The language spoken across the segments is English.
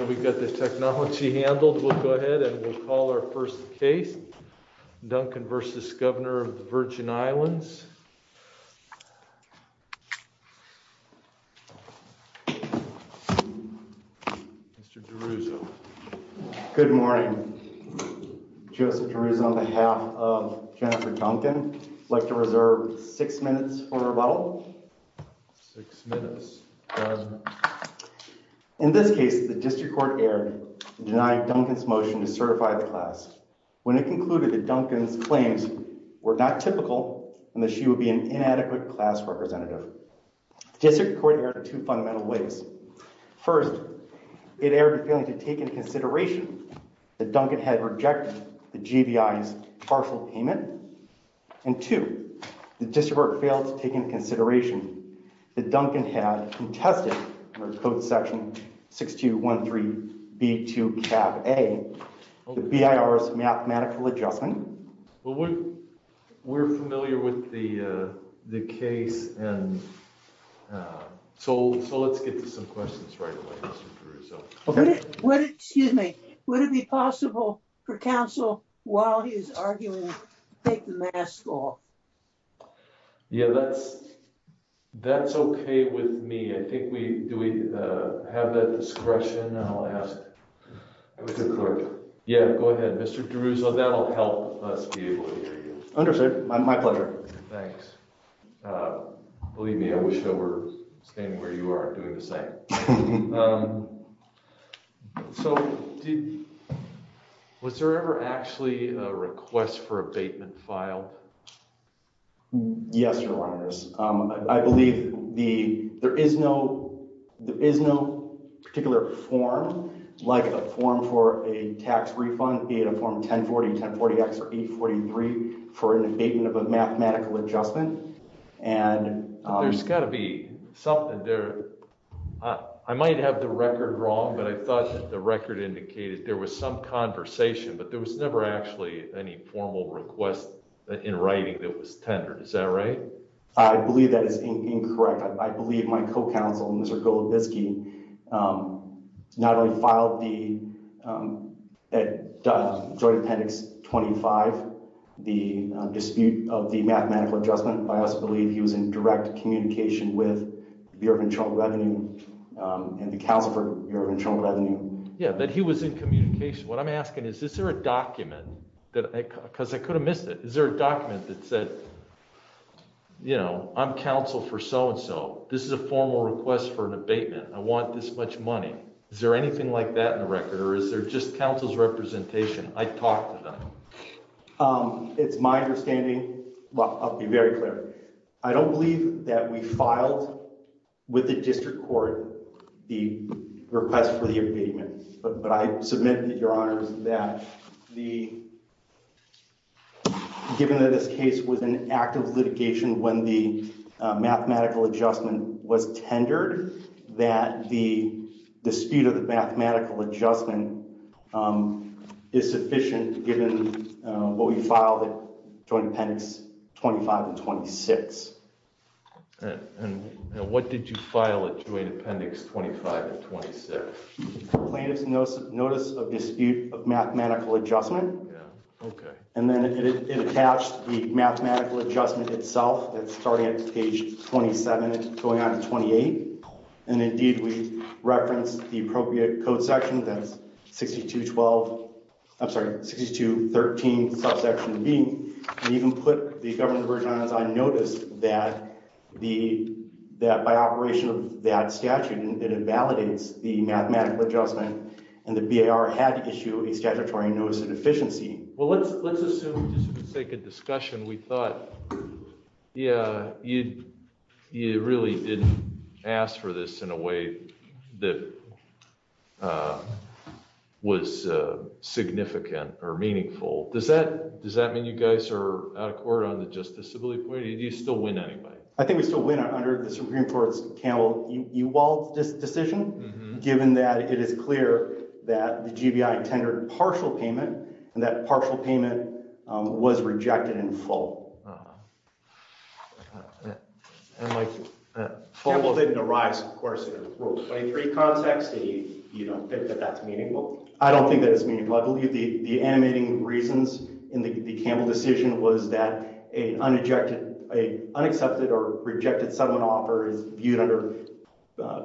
We've got this technology handled. We'll go ahead and we'll call our first case, Duncan v. Governor of the Virgin Islands. Mr. DeRuzo. Good morning. Joseph DeRuzo on behalf of Jennifer Duncan. I'd like to reserve six minutes for rebuttal. In this case, the district court erred in denying Duncan's motion to certify the class when it concluded that Duncan's claims were not typical and that she would be an inadequate class representative. District court erred in two fundamental ways. First, it erred in failing to take into consideration that Duncan had rejected the GBI's partial payment. And two, the district court failed to take into consideration that Duncan had contested code section 6213 B2 cap A, the BIR's mathematical adjustment. Well, we're familiar with the case and so let's get to some questions right away, Mr. DeRuzo. Excuse me. Would it be possible for counsel, while he's arguing, to take the mask off? Yeah, that's okay with me. I think we, do we have that discretion? I'll ask the clerk. Yeah, go ahead, Mr. DeRuzo. That'll help us be able to hear you. Understood. My pleasure. Thanks. Believe me, I wish I were staying where you are doing the same. So did, was there ever actually a request for abatement filed? Yes, your honors. I believe the, there is no, there is no particular form, like a form for a tax refund, be it a form 1040, 1040X, or 843 for an abatement of a mathematical adjustment. And there's got to be something there. I might have the record wrong, but I thought that the record indicated there was some conversation, but there was never actually any formal request in writing that was tendered. Is that right? I believe that is incorrect. I believe my co-counsel, Mr. Golubiski, not only filed the joint appendix 25, the dispute of the mathematical adjustment, he was in direct communication with the Bureau of Internal Revenue and the counsel for Bureau of Internal Revenue. Yeah, but he was in communication. What I'm asking is, is there a document that I, because I could have missed it. Is there a document that said, you know, I'm counsel for so-and-so. This is a formal request for an abatement. I want this much money. Is there anything like that in the record, or is there just counsel's representation? I talked to them. It's my understanding. Well, I'll be very clear. I don't believe that we filed with the district court the request for the abatement, but I submit, Your Honors, that given that this case was an active litigation when the mathematical adjustment was tendered, that the dispute of the mathematical adjustment is sufficient given what we filed at Joint Appendix 25 and 26. And what did you file at Joint Appendix 25 and 26? Plaintiff's Notice of Dispute of Mathematical Adjustment, and then it attached the mathematical adjustment itself that's starting at page 27 and going on to 28, and indeed we referenced the appropriate code section that's 6212, I'm sorry, 6213, subsection B, and even put the government version on as I noticed that the, that by operation of that statute, it invalidates the mathematical adjustment, and the BAR had to issue a statutory notice of deficiency. Well, let's assume, just for the sake of discussion, we thought, yeah, you really didn't ask for this in a way that was significant or meaningful. Does that, does that mean you guys are out of court on the justiciability point? Do you still win anyway? I think we still win under the Supreme Court's Campbell-Ewald decision, given that it is clear that the GBI tendered partial payment, and that partial payment was rejected in full. Campbell didn't arise, of course, in Rule 23 context, and you don't think that that's meaningful? I don't think that it's meaningful. I believe the animating reasons in the Campbell decision was that an unaccepted or rejected settlement offer is viewed under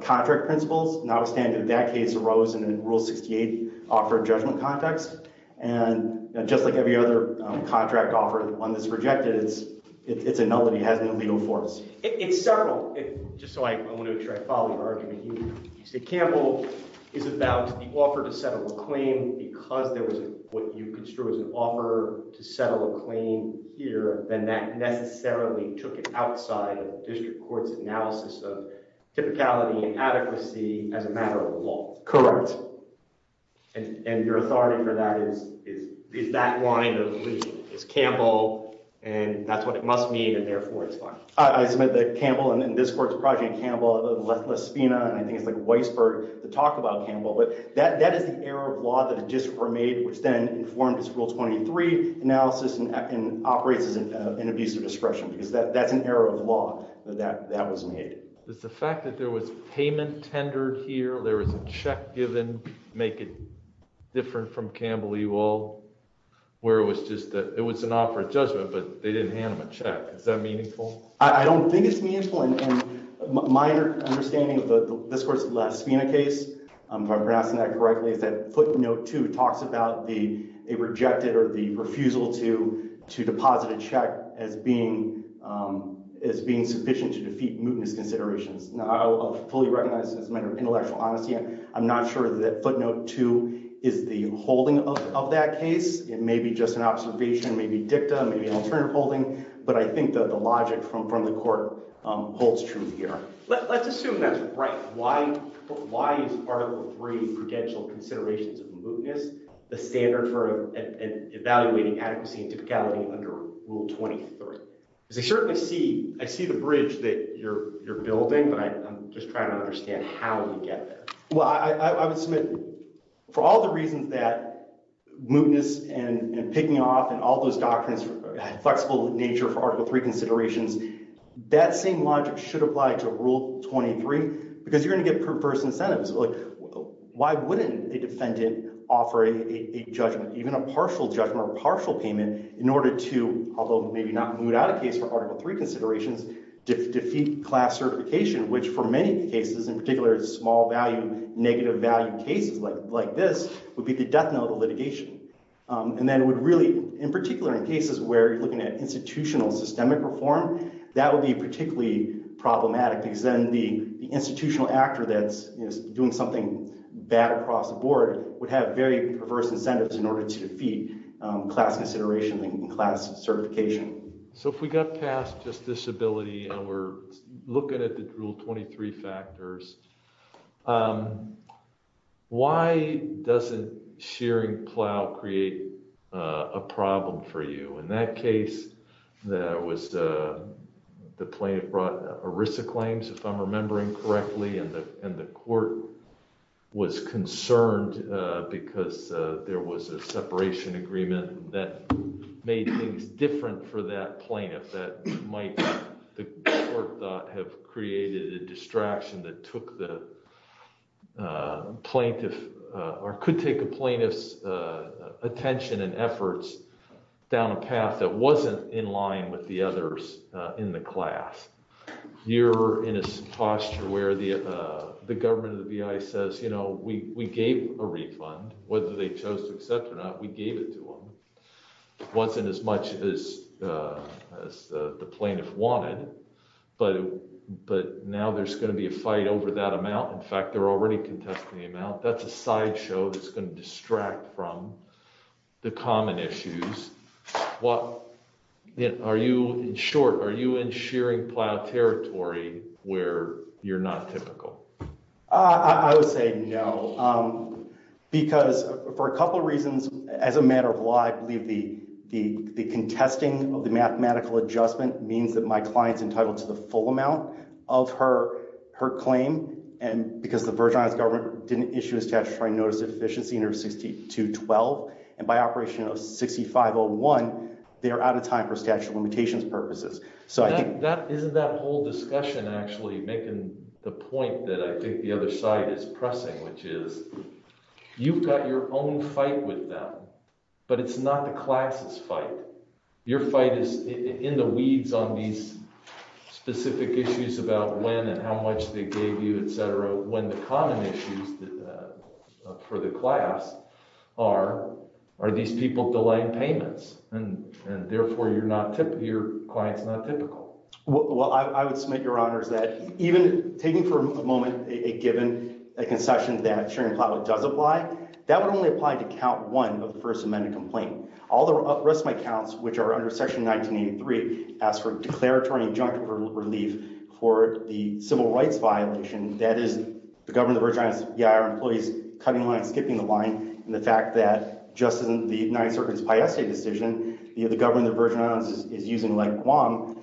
contract principles, notwithstanding that case arose in a Rule 68 offered judgment context, and just like every other contract offer, the one that's rejected, it's annulled and he has no legal force. It's several, just so I want to make sure I follow your argument here. You say Campbell is about the offer to settle a claim because there was what you construe as an offer to settle a claim here, and that necessarily took it outside of district court's analysis of typicality and adequacy as a district court. So your authority for that is that line of, it's Campbell, and that's what it must mean, and therefore it's fine. I submit that Campbell and this court's project, Campbell, Lespina, and I think it's like Weisberg to talk about Campbell, but that is the error of law that a district court made, which then informed its Rule 23 analysis and operates as an abuse of discretion, because that's an error of law that was made. Is the fact that there was payment tendered here, there was a check given to make it different from Campbell, you all, where it was just that it was an offer of judgment but they didn't hand them a check, is that meaningful? I don't think it's meaningful, and my understanding of this court's Lespina case, if I'm pronouncing that correctly, is that footnote two talks about the rejected or the fully recognized as a matter of intellectual honesty. I'm not sure that footnote two is the holding of that case. It may be just an observation, maybe dicta, maybe an alternative holding, but I think that the logic from the court holds true here. Let's assume that's right. Why is Article 3, Prudential Considerations of Mootness, the standard for evaluating adequacy and typicality under Rule 23? Because I certainly see, I see the bridge that you're building, but I'm just trying to understand how you get there. Well, I would submit for all the reasons that mootness and picking off and all those doctrines had flexible nature for Article 3 considerations, that same logic should apply to Rule 23, because you're going to get preferred incentives. Why wouldn't a defendant offer a judgment, even a partial judgment or partial payment, in order to, although maybe not moot out a case for Article 3 considerations, to defeat class certification, which for many cases, in particular small value, negative value cases like this, would be the death knell of litigation. And then it would really, in particular in cases where you're looking at institutional systemic reform, that would be particularly problematic because then the institutional actor that's doing something bad across the board would have very perverse incentives in order to defeat class consideration and class certification. So if we got past just disability and we're looking at the Rule 23 factors, why doesn't shearing plow create a problem for you? In that case, there was the plaintiff brought ERISA claims, if I'm remembering correctly, and the court was concerned because there was a separation agreement that made things different for that plaintiff that might, the court thought, have created a distraction that took the plaintiff or could take a plaintiff's attention and efforts down a path that wasn't in line with the others in the class. You're in a posture where the government of the B.I. says, you know, we gave a refund, whether they chose to accept or not, we gave it to them. It wasn't as much as the plaintiff wanted, but now there's going to be a fight over that amount. In fact, they're already contesting the amount. That's a sideshow that's going to distract from the common issues. Are you, in short, are you in shearing plow territory where you're not typical? I would say no, because for a couple of reasons, as a matter of law, I believe the contesting of the mathematical adjustment means that my client's entitled to the full amount of her claim, and because the Virginia's government didn't issue a statutory notice of deficiency under 6212, and by operation of 6501, they are out of time for statute of limitations purposes. Isn't that whole discussion actually making the point that I think the other side is pressing, which is you've got your own fight with them, but it's not the class's fight. Your fight is in the weeds on these specific issues about when and how much they gave you, et cetera, when the common issues for the class are, are these people delaying payments, and therefore, your client's not typical. Well, I would submit, Your Honors, that even taking for a moment, given a concession that shearing plow does apply, that would only apply to count one of the first amended complaint. All the rest of my counts, which are under section 1983, ask for declaratory injunctive relief for the civil rights violation, that is, the government of Virginia, our employees cutting the line, skipping the line, and the fact that, just as in the United Circuit's Paese decision, the government of Virginia is using like Guam,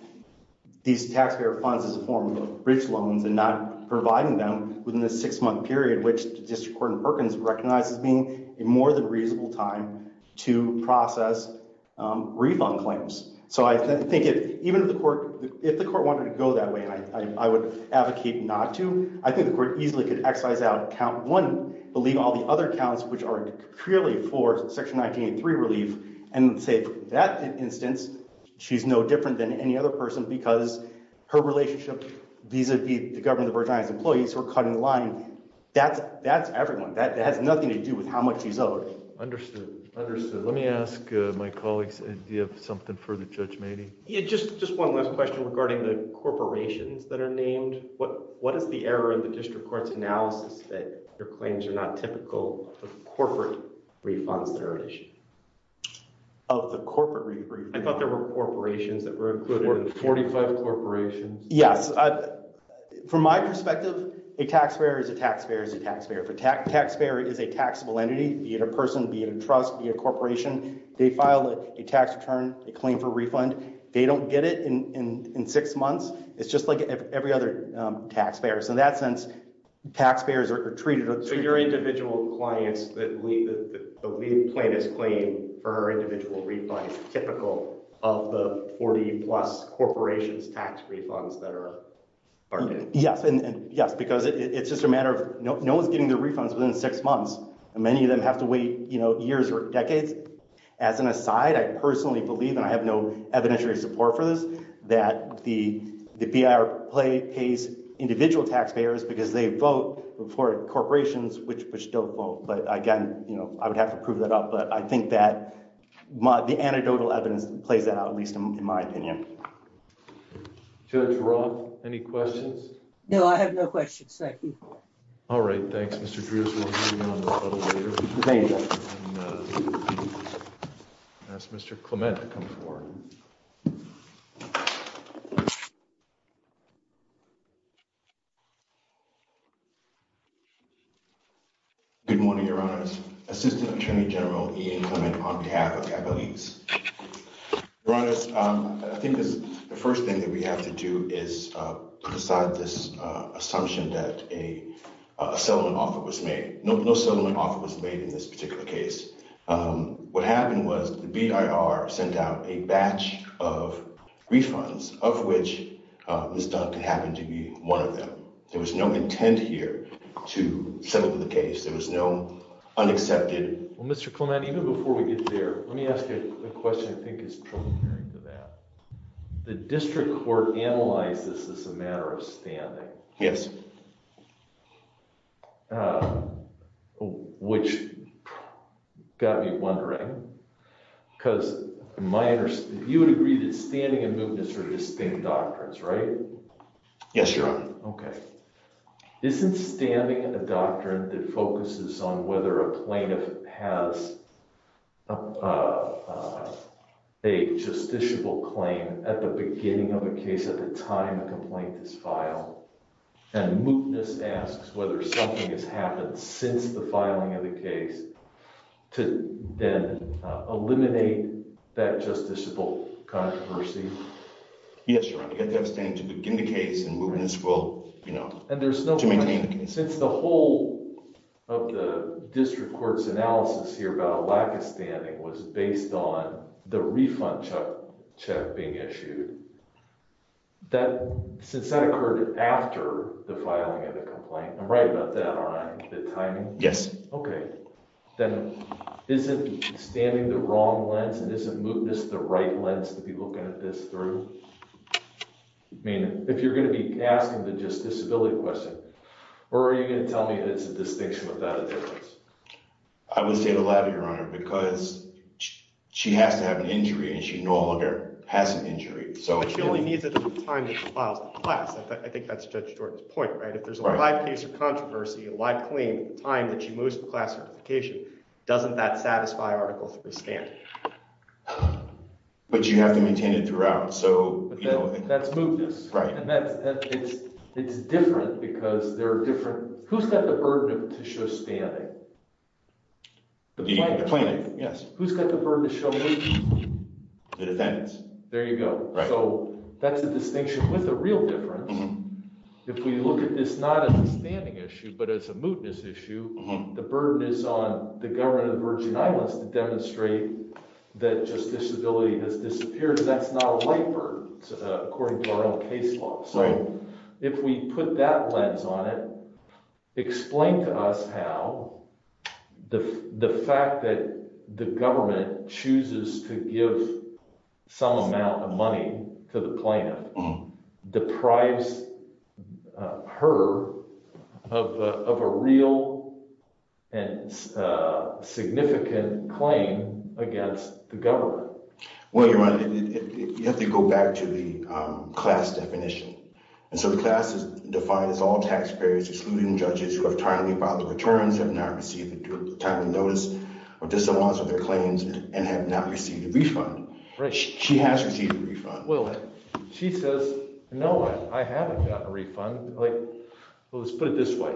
these taxpayer funds as a form of bridge loans and not providing them within the six-month period, which the district court in Perkins recognizes being a more than reasonable time to process refund claims. So I think if, even if the court, if the court wanted to go that way, and I would advocate not to, I think the court easily could excise out count one, believe all the other counts, which are clearly for section 1983 relief, and say that instance, she's no different than any other person because her relationship vis-a-vis the government of Virginia's employees who are cutting the line, that's, that's everyone, that has nothing to do with how much she's owed. Understood, understood. Let me ask my colleagues, do you have something for the judge, Mady? Yeah, just, just one last question regarding the district court's analysis that your claims are not typical of corporate refunds that are an issue? Of the corporate refunds? I thought there were corporations that were included. 45 corporations? Yes, from my perspective, a taxpayer is a taxpayer is a taxpayer. If a taxpayer is a taxable entity, be it a person, be it a trust, be it a corporation, they file a tax return, a claim for refund, they don't get it in, in six months. It's just like every other taxpayer. So in that sense, taxpayers are treated... So your individual clients that leave, that leave plaintiff's claim for her individual refund is typical of the 40 plus corporations tax refunds that are part of it? Yes, and yes, because it's just a matter of, no one's getting their refunds within six months, and many of them have to wait, you know, years or decades. As an aside, I personally believe, and I have no evidentiary support for this, that the, the BIR pays individual taxpayers because they vote for corporations which, which don't vote. But again, you know, I would have to prove that up, but I think that my, the anecdotal evidence plays that out, at least in my opinion. Judge Roth, any questions? No, I have no questions. Thank you. All right, thanks, Mr. Drews. We'll hear you on the phone later. That's Mr. Clement. Good morning, Your Honors. Assistant Attorney General E.A. Clement on behalf of Capital East. Your Honors, I think this, the first thing that we have to do is decide this assumption that a settlement offer was made. No, no settlement offer was made in this particular case. What happened was the BIR sent out a batch of refunds, of which Ms. Duncan happened to be one of them. There was no intent here to settle the case. There was no unaccepted... Well, Mr. Clement, even before we get there, let me ask you a question I think is natural to that. The district court analyzed this as a matter of standing. Yes. Which got me wondering, because my, you would agree that standing and mootness are distinct doctrines, right? Yes, Your Honor. Okay. Isn't standing a doctrine that focuses on whether a justiciable claim at the beginning of a case, at the time a complaint is filed, and mootness asks whether something has happened since the filing of the case to then eliminate that justiciable controversy? Yes, Your Honor. You have to have standing to begin the case and mootness will, you know... And there's no... To maintain the case. Since the whole of the district court's analysis here about a lack of standing was based on the refund check being issued, since that occurred after the filing of the complaint, I'm right about that, aren't I? The timing? Yes. Okay. Then isn't standing the wrong lens and isn't mootness the right lens to be looking at this through? I mean, if you're going to be asking the justiciability question, where are you going to tell me that it's a distinction without a difference? I would say the latter, Your Honor, because she has to have an injury and she no longer has an injury. But she only needs it at the time that she files the class. I think that's Judge Jordan's point, right? If there's a live case of controversy, a live claim, at the time that she moves to the class certification, doesn't that satisfy Article III standing? But you have to maintain it throughout, so... That's mootness. Right. And that's... It's different because who's got the burden to show standing? The plaintiff. The plaintiff, yes. Who's got the burden to show mootness? The defendants. There you go. Right. So that's a distinction with a real difference. If we look at this not as a standing issue, but as a mootness issue, the burden is on the government of the Virgin Islands to demonstrate that justiciability has disappeared. That's not a light burden, according to our own case law. If we put that lens on it, explain to us how the fact that the government chooses to give some amount of money to the plaintiff deprives her of a real and significant claim against the government. Well, you have to go back to the class definition. And so the class is defined as all taxpayers, excluding judges, who have timely filed returns, have not received a timely notice, or disallowance of their claims, and have not received a refund. Right. She has received a refund. Well, she says, no, I haven't gotten a refund. Let's put it this way.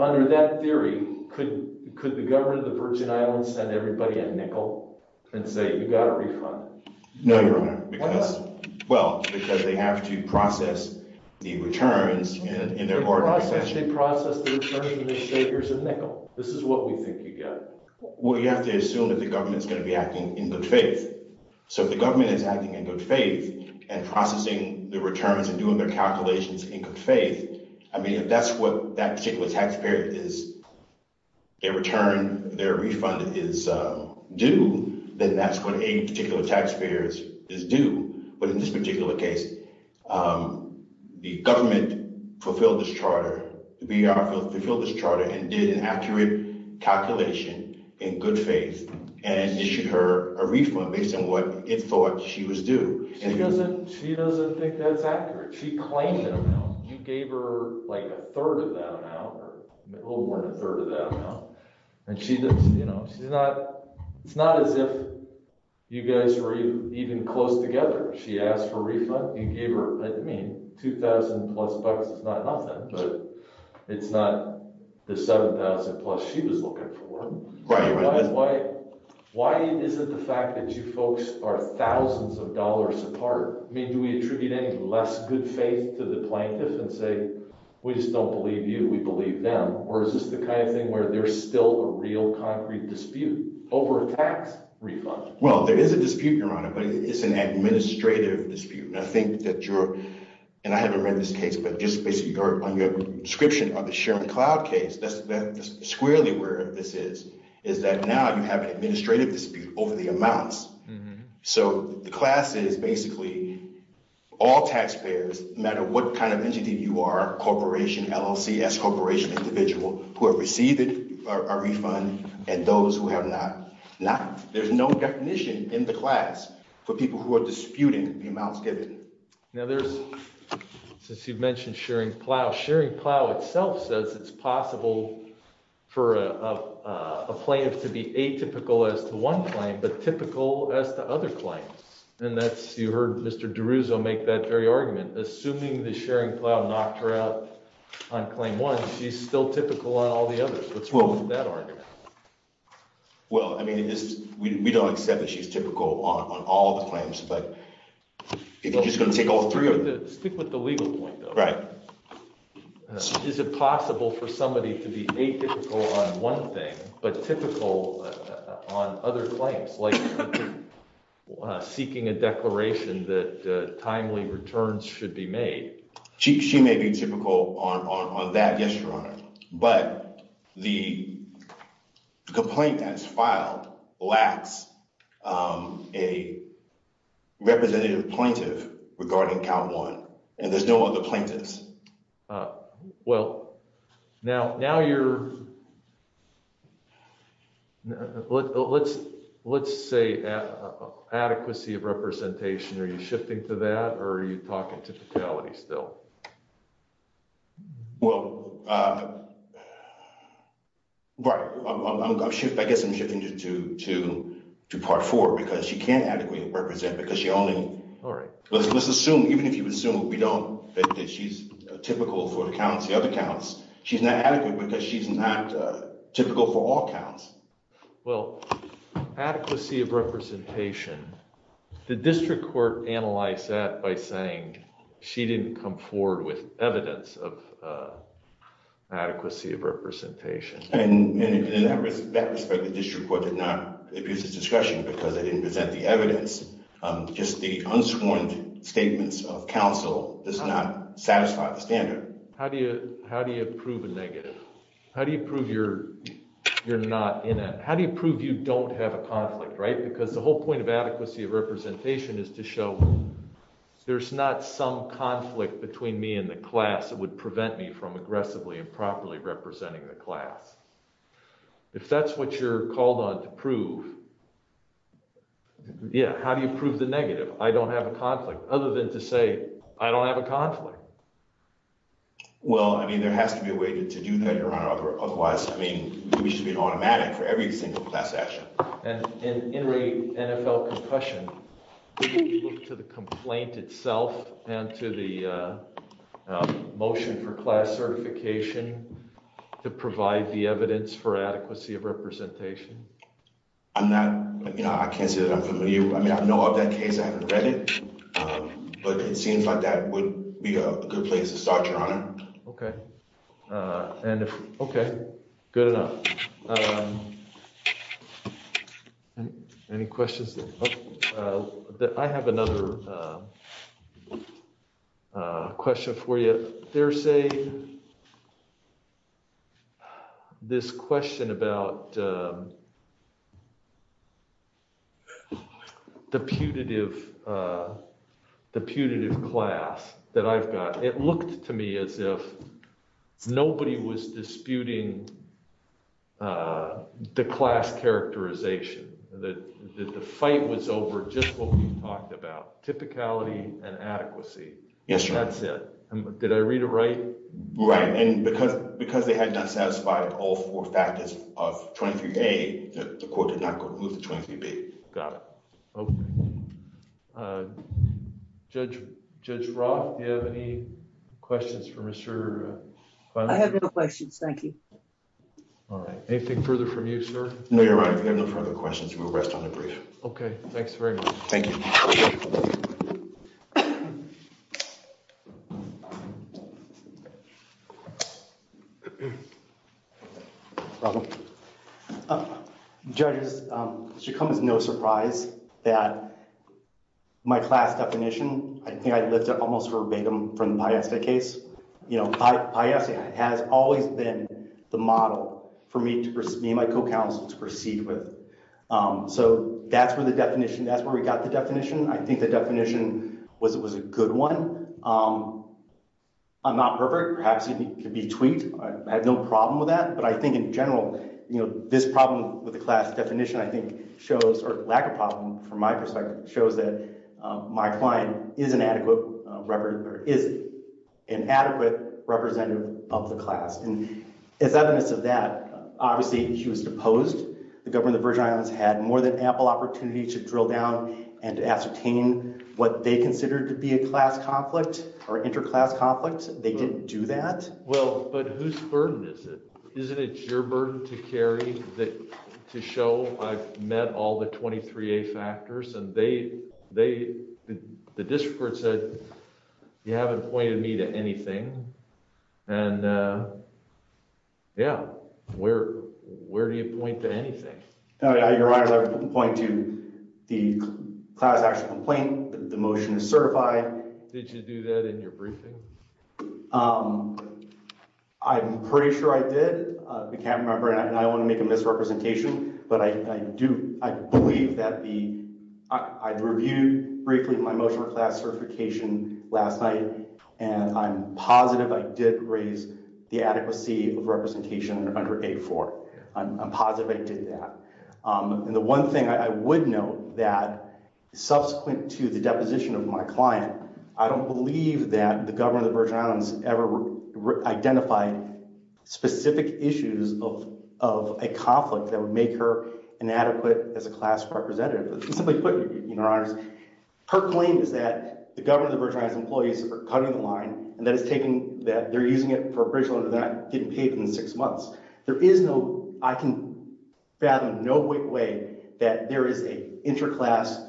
Under that theory, could the government of the Virgin Islands send everybody a nickel and say, you got a refund? No, Your Honor. Why not? Well, because they have to process the returns in their order of possession. They process the returns and they say, here's a nickel. This is what we think you get. Well, you have to assume that the government is going to be acting in good faith. So if the government is acting in good faith and processing the returns and doing their calculations in good faith, their return, their refund is due, then that's what a particular taxpayer is due. But in this particular case, the government fulfilled this charter, the VR fulfilled this charter, and did an accurate calculation in good faith, and issued her a refund based on what it thought she was due. She doesn't think that's accurate. She claimed that amount. You gave her like a third of that amount or a little more than a third of that amount. It's not as if you guys were even close together. She asked for a refund. You gave her, I mean, $2,000 plus bucks is not nothing, but it's not the $7,000 plus she was looking for. Why is it the fact that you folks are thousands of dollars apart? I mean, do we attribute any good faith to the plaintiff and say, we just don't believe you, we believe them? Or is this the kind of thing where there's still a real concrete dispute over a tax refund? Well, there is a dispute, Your Honor, but it's an administrative dispute. And I think that you're, and I haven't read this case, but just basically on your description of the Sherman Cloud case, that's squarely where this is, is that now you have an administrative dispute over the amounts. So the class is basically all taxpayers, no matter what kind of entity you are, corporation, LLC, S corporation, individual who have received a refund and those who have not. There's no definition in the class for people who are disputing the amounts given. Now there's, since you've mentioned sharing plow, sharing plow itself says it's possible for a plaintiff to be atypical as to one claim, but typical as to other claims. And that's, you heard Mr. DeRuzo make that very argument, assuming the sharing plow knocked her out on claim one, she's still typical on all the others. What's wrong with that argument? Well, I mean, we don't accept that she's typical on all the claims, but if you're just going to take all three of them. Stick with the legal point, though. Right. Is it possible for somebody to be atypical on one thing, but typical on other claims like seeking a declaration that timely returns should be made? She may be typical on that, yes, your honor, but the complaint that's filed lacks a representative plaintiff regarding count one and there's no other plaintiffs. Well, now, now you're, let's, let's say adequacy of representation. Are you shifting to that or are you talking to fatality still? Well, I guess I'm shifting to part four because she can't adequately represent because she only, let's assume, even if you assume we don't, that she's typical for the counts, the other counts, she's not adequate because she's not typical for all counts. Well, adequacy of representation, the district court analyzed that by saying she didn't come forward with evidence of adequacy of representation. And in that respect, the district court did not abuse its discretion because they didn't present the evidence. Just the unsworn statements of counsel does not satisfy the standard. How do you, how do you prove a negative? How do you prove you're, you're not in it? How do you prove you don't have a conflict, right? Because the whole point of adequacy of representation is to show there's not some conflict between me and the class that would prevent me from aggressively and properly representing the class. If that's what you're called on to prove, yeah, how do you prove the negative? I don't have a conflict other than to say I don't have a conflict. Well, I mean, there has to be a way to do that, Your Honor. Otherwise, I mean, we should be automatic for every single class action. And in the NFL concussion, did you look to the complaint itself and to the motion for class certification to provide the evidence for adequacy of representation? I'm not, you know, I can't say I'm familiar. I mean, I know of that case. I haven't read it, but it seems like that would be a good place to start, Your Honor. Okay. And if, okay, good enough. Any questions? I have another question for you. There's a, this question about the putative class that I've got. It looked to me as if nobody was disputing the class characterization, that the fight was over just what we've talked about, typicality and adequacy. Yes, Your Honor. That's it. Did I read it right? Right. And because they had not satisfied all four factors of 23A, the court did not go to 23B. Got it. Okay. Judge, Judge Roth, do you have any questions for Mr. Finley? I have no questions. Thank you. All right. Anything further from you, sir? No, Your Honor. If you have no further questions, we'll rest on the brief. Okay. Thanks very much. Thank you. Judges, it should come as no surprise that my class definition, I think I lift it almost verbatim from the Paiesta case. You know, Paiesta has always been the model for me and my co-counsel to proceed with. So that's where the definition, that's where we got the definition. I think the problem with that, but I think in general, you know, this problem with the class definition, I think shows, or lack of problem from my perspective, shows that my client is an adequate representative of the class. And as evidence of that, obviously she was deposed. The government of the Virgin Islands had more than ample opportunity to drill down and ascertain what they considered to be a class conflict or inter-class conflict. They didn't do that. Well, but whose burden is it? Isn't it your burden to carry that to show I've met all the 23A factors and they, the district court said, you haven't pointed me to anything. And yeah, where do you point to anything? Your Honor, I point to the class action complaint, the motion is certified. Did you do that in your briefing? I'm pretty sure I did. I can't remember and I don't want to make a misrepresentation, but I do, I believe that the, I reviewed briefly my motion for class certification last night and I'm positive I did raise the adequacy of representation under A4. I'm positive I did that. And the one thing I would note that subsequent to the deposition of my client, I don't believe that the government of the Virgin Islands ever identified specific issues of, of a conflict that would make her inadequate as a class representative. Simply put, Your Honor, her claim is that the government of the Virgin Islands employees are cutting the line and that it's taken, that they're using it for a bridge loan that didn't pay them in six months. There is no, I can fathom no way that there is a interclass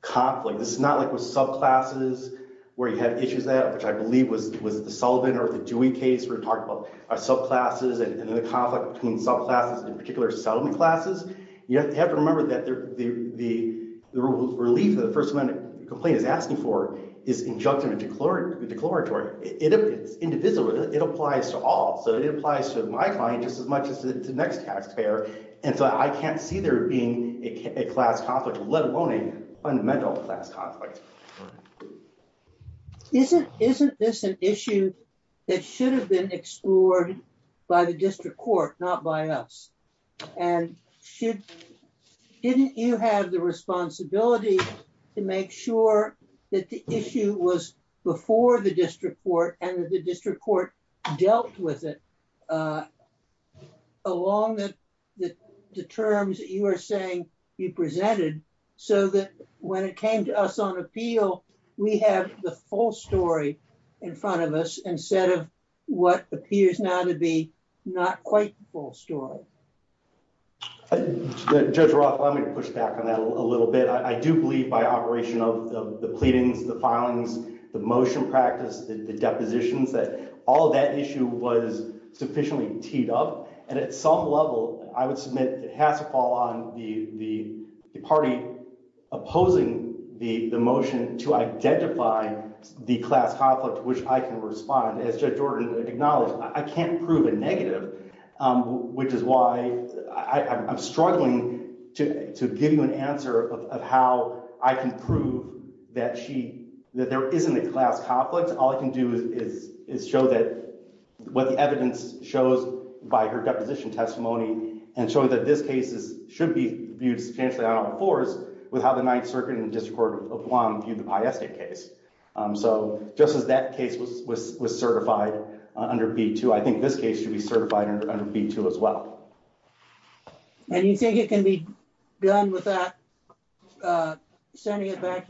conflict. This is not like with subclasses where you have issues that, which I believe was, was the Sullivan or the Dewey case we're talking about, are subclasses and then the conflict between subclasses, in particular settlement classes. You have to remember that the, the, the relief that the First Amendment complaint is asking for is injunctive and declaratory. It is indivisible. It applies to all. So it applies to my client just as much as the next taxpayer. And so I can't see there being a class conflict, let alone a fundamental class conflict. Isn't, isn't this an issue that should have been explored by the district court, not by us? And should, didn't you have the responsibility to make sure that the issue was before the district court and that the district court dealt with it along the, the, the terms that you are saying you presented so that when it came to us on appeal, we have the full story in front of us, instead of what appears now to be not quite the full story. Judge Roth, let me push back on that a little bit. I do believe by operation of the pleadings, the filings, the motion practice, the depositions, that all of that issue was sufficiently teed up. And at some level, I would submit it has to fall on the, the party opposing the motion to identify the class conflict, which I can respond, as Judge Jordan acknowledged, I can't prove a negative, which is why I'm struggling to, to give you an answer of how I can prove that she, that there isn't a class conflict. All I can do is, is show that what the evidence shows by her deposition testimony and show that this case is, should be viewed substantially on all fours with how the Ninth Circuit and District Court of Guam viewed the Pieste case. So just as that case was, was, was certified under B2, I think this case should be sent back to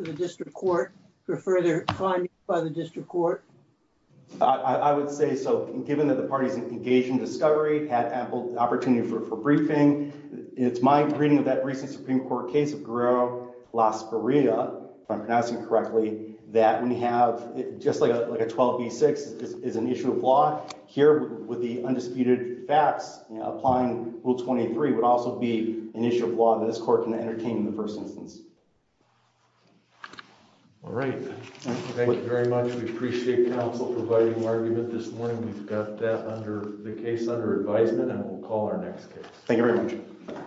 the District Court for further findings by the District Court. I would say so, given that the parties engaged in discovery had ample opportunity for, for briefing. It's my reading of that recent Supreme Court case of Guerrero-Las Barrias, if I'm pronouncing it correctly, that when you have just like a, like a 12B6 is an issue of law here with the undisputed facts, you know, applying Rule 23 would also be an issue of law that this court can entertain in the first instance. All right. Thank you very much. We appreciate counsel providing argument this morning. We've got that under the case under advisement and we'll call our next case. Thank you very much.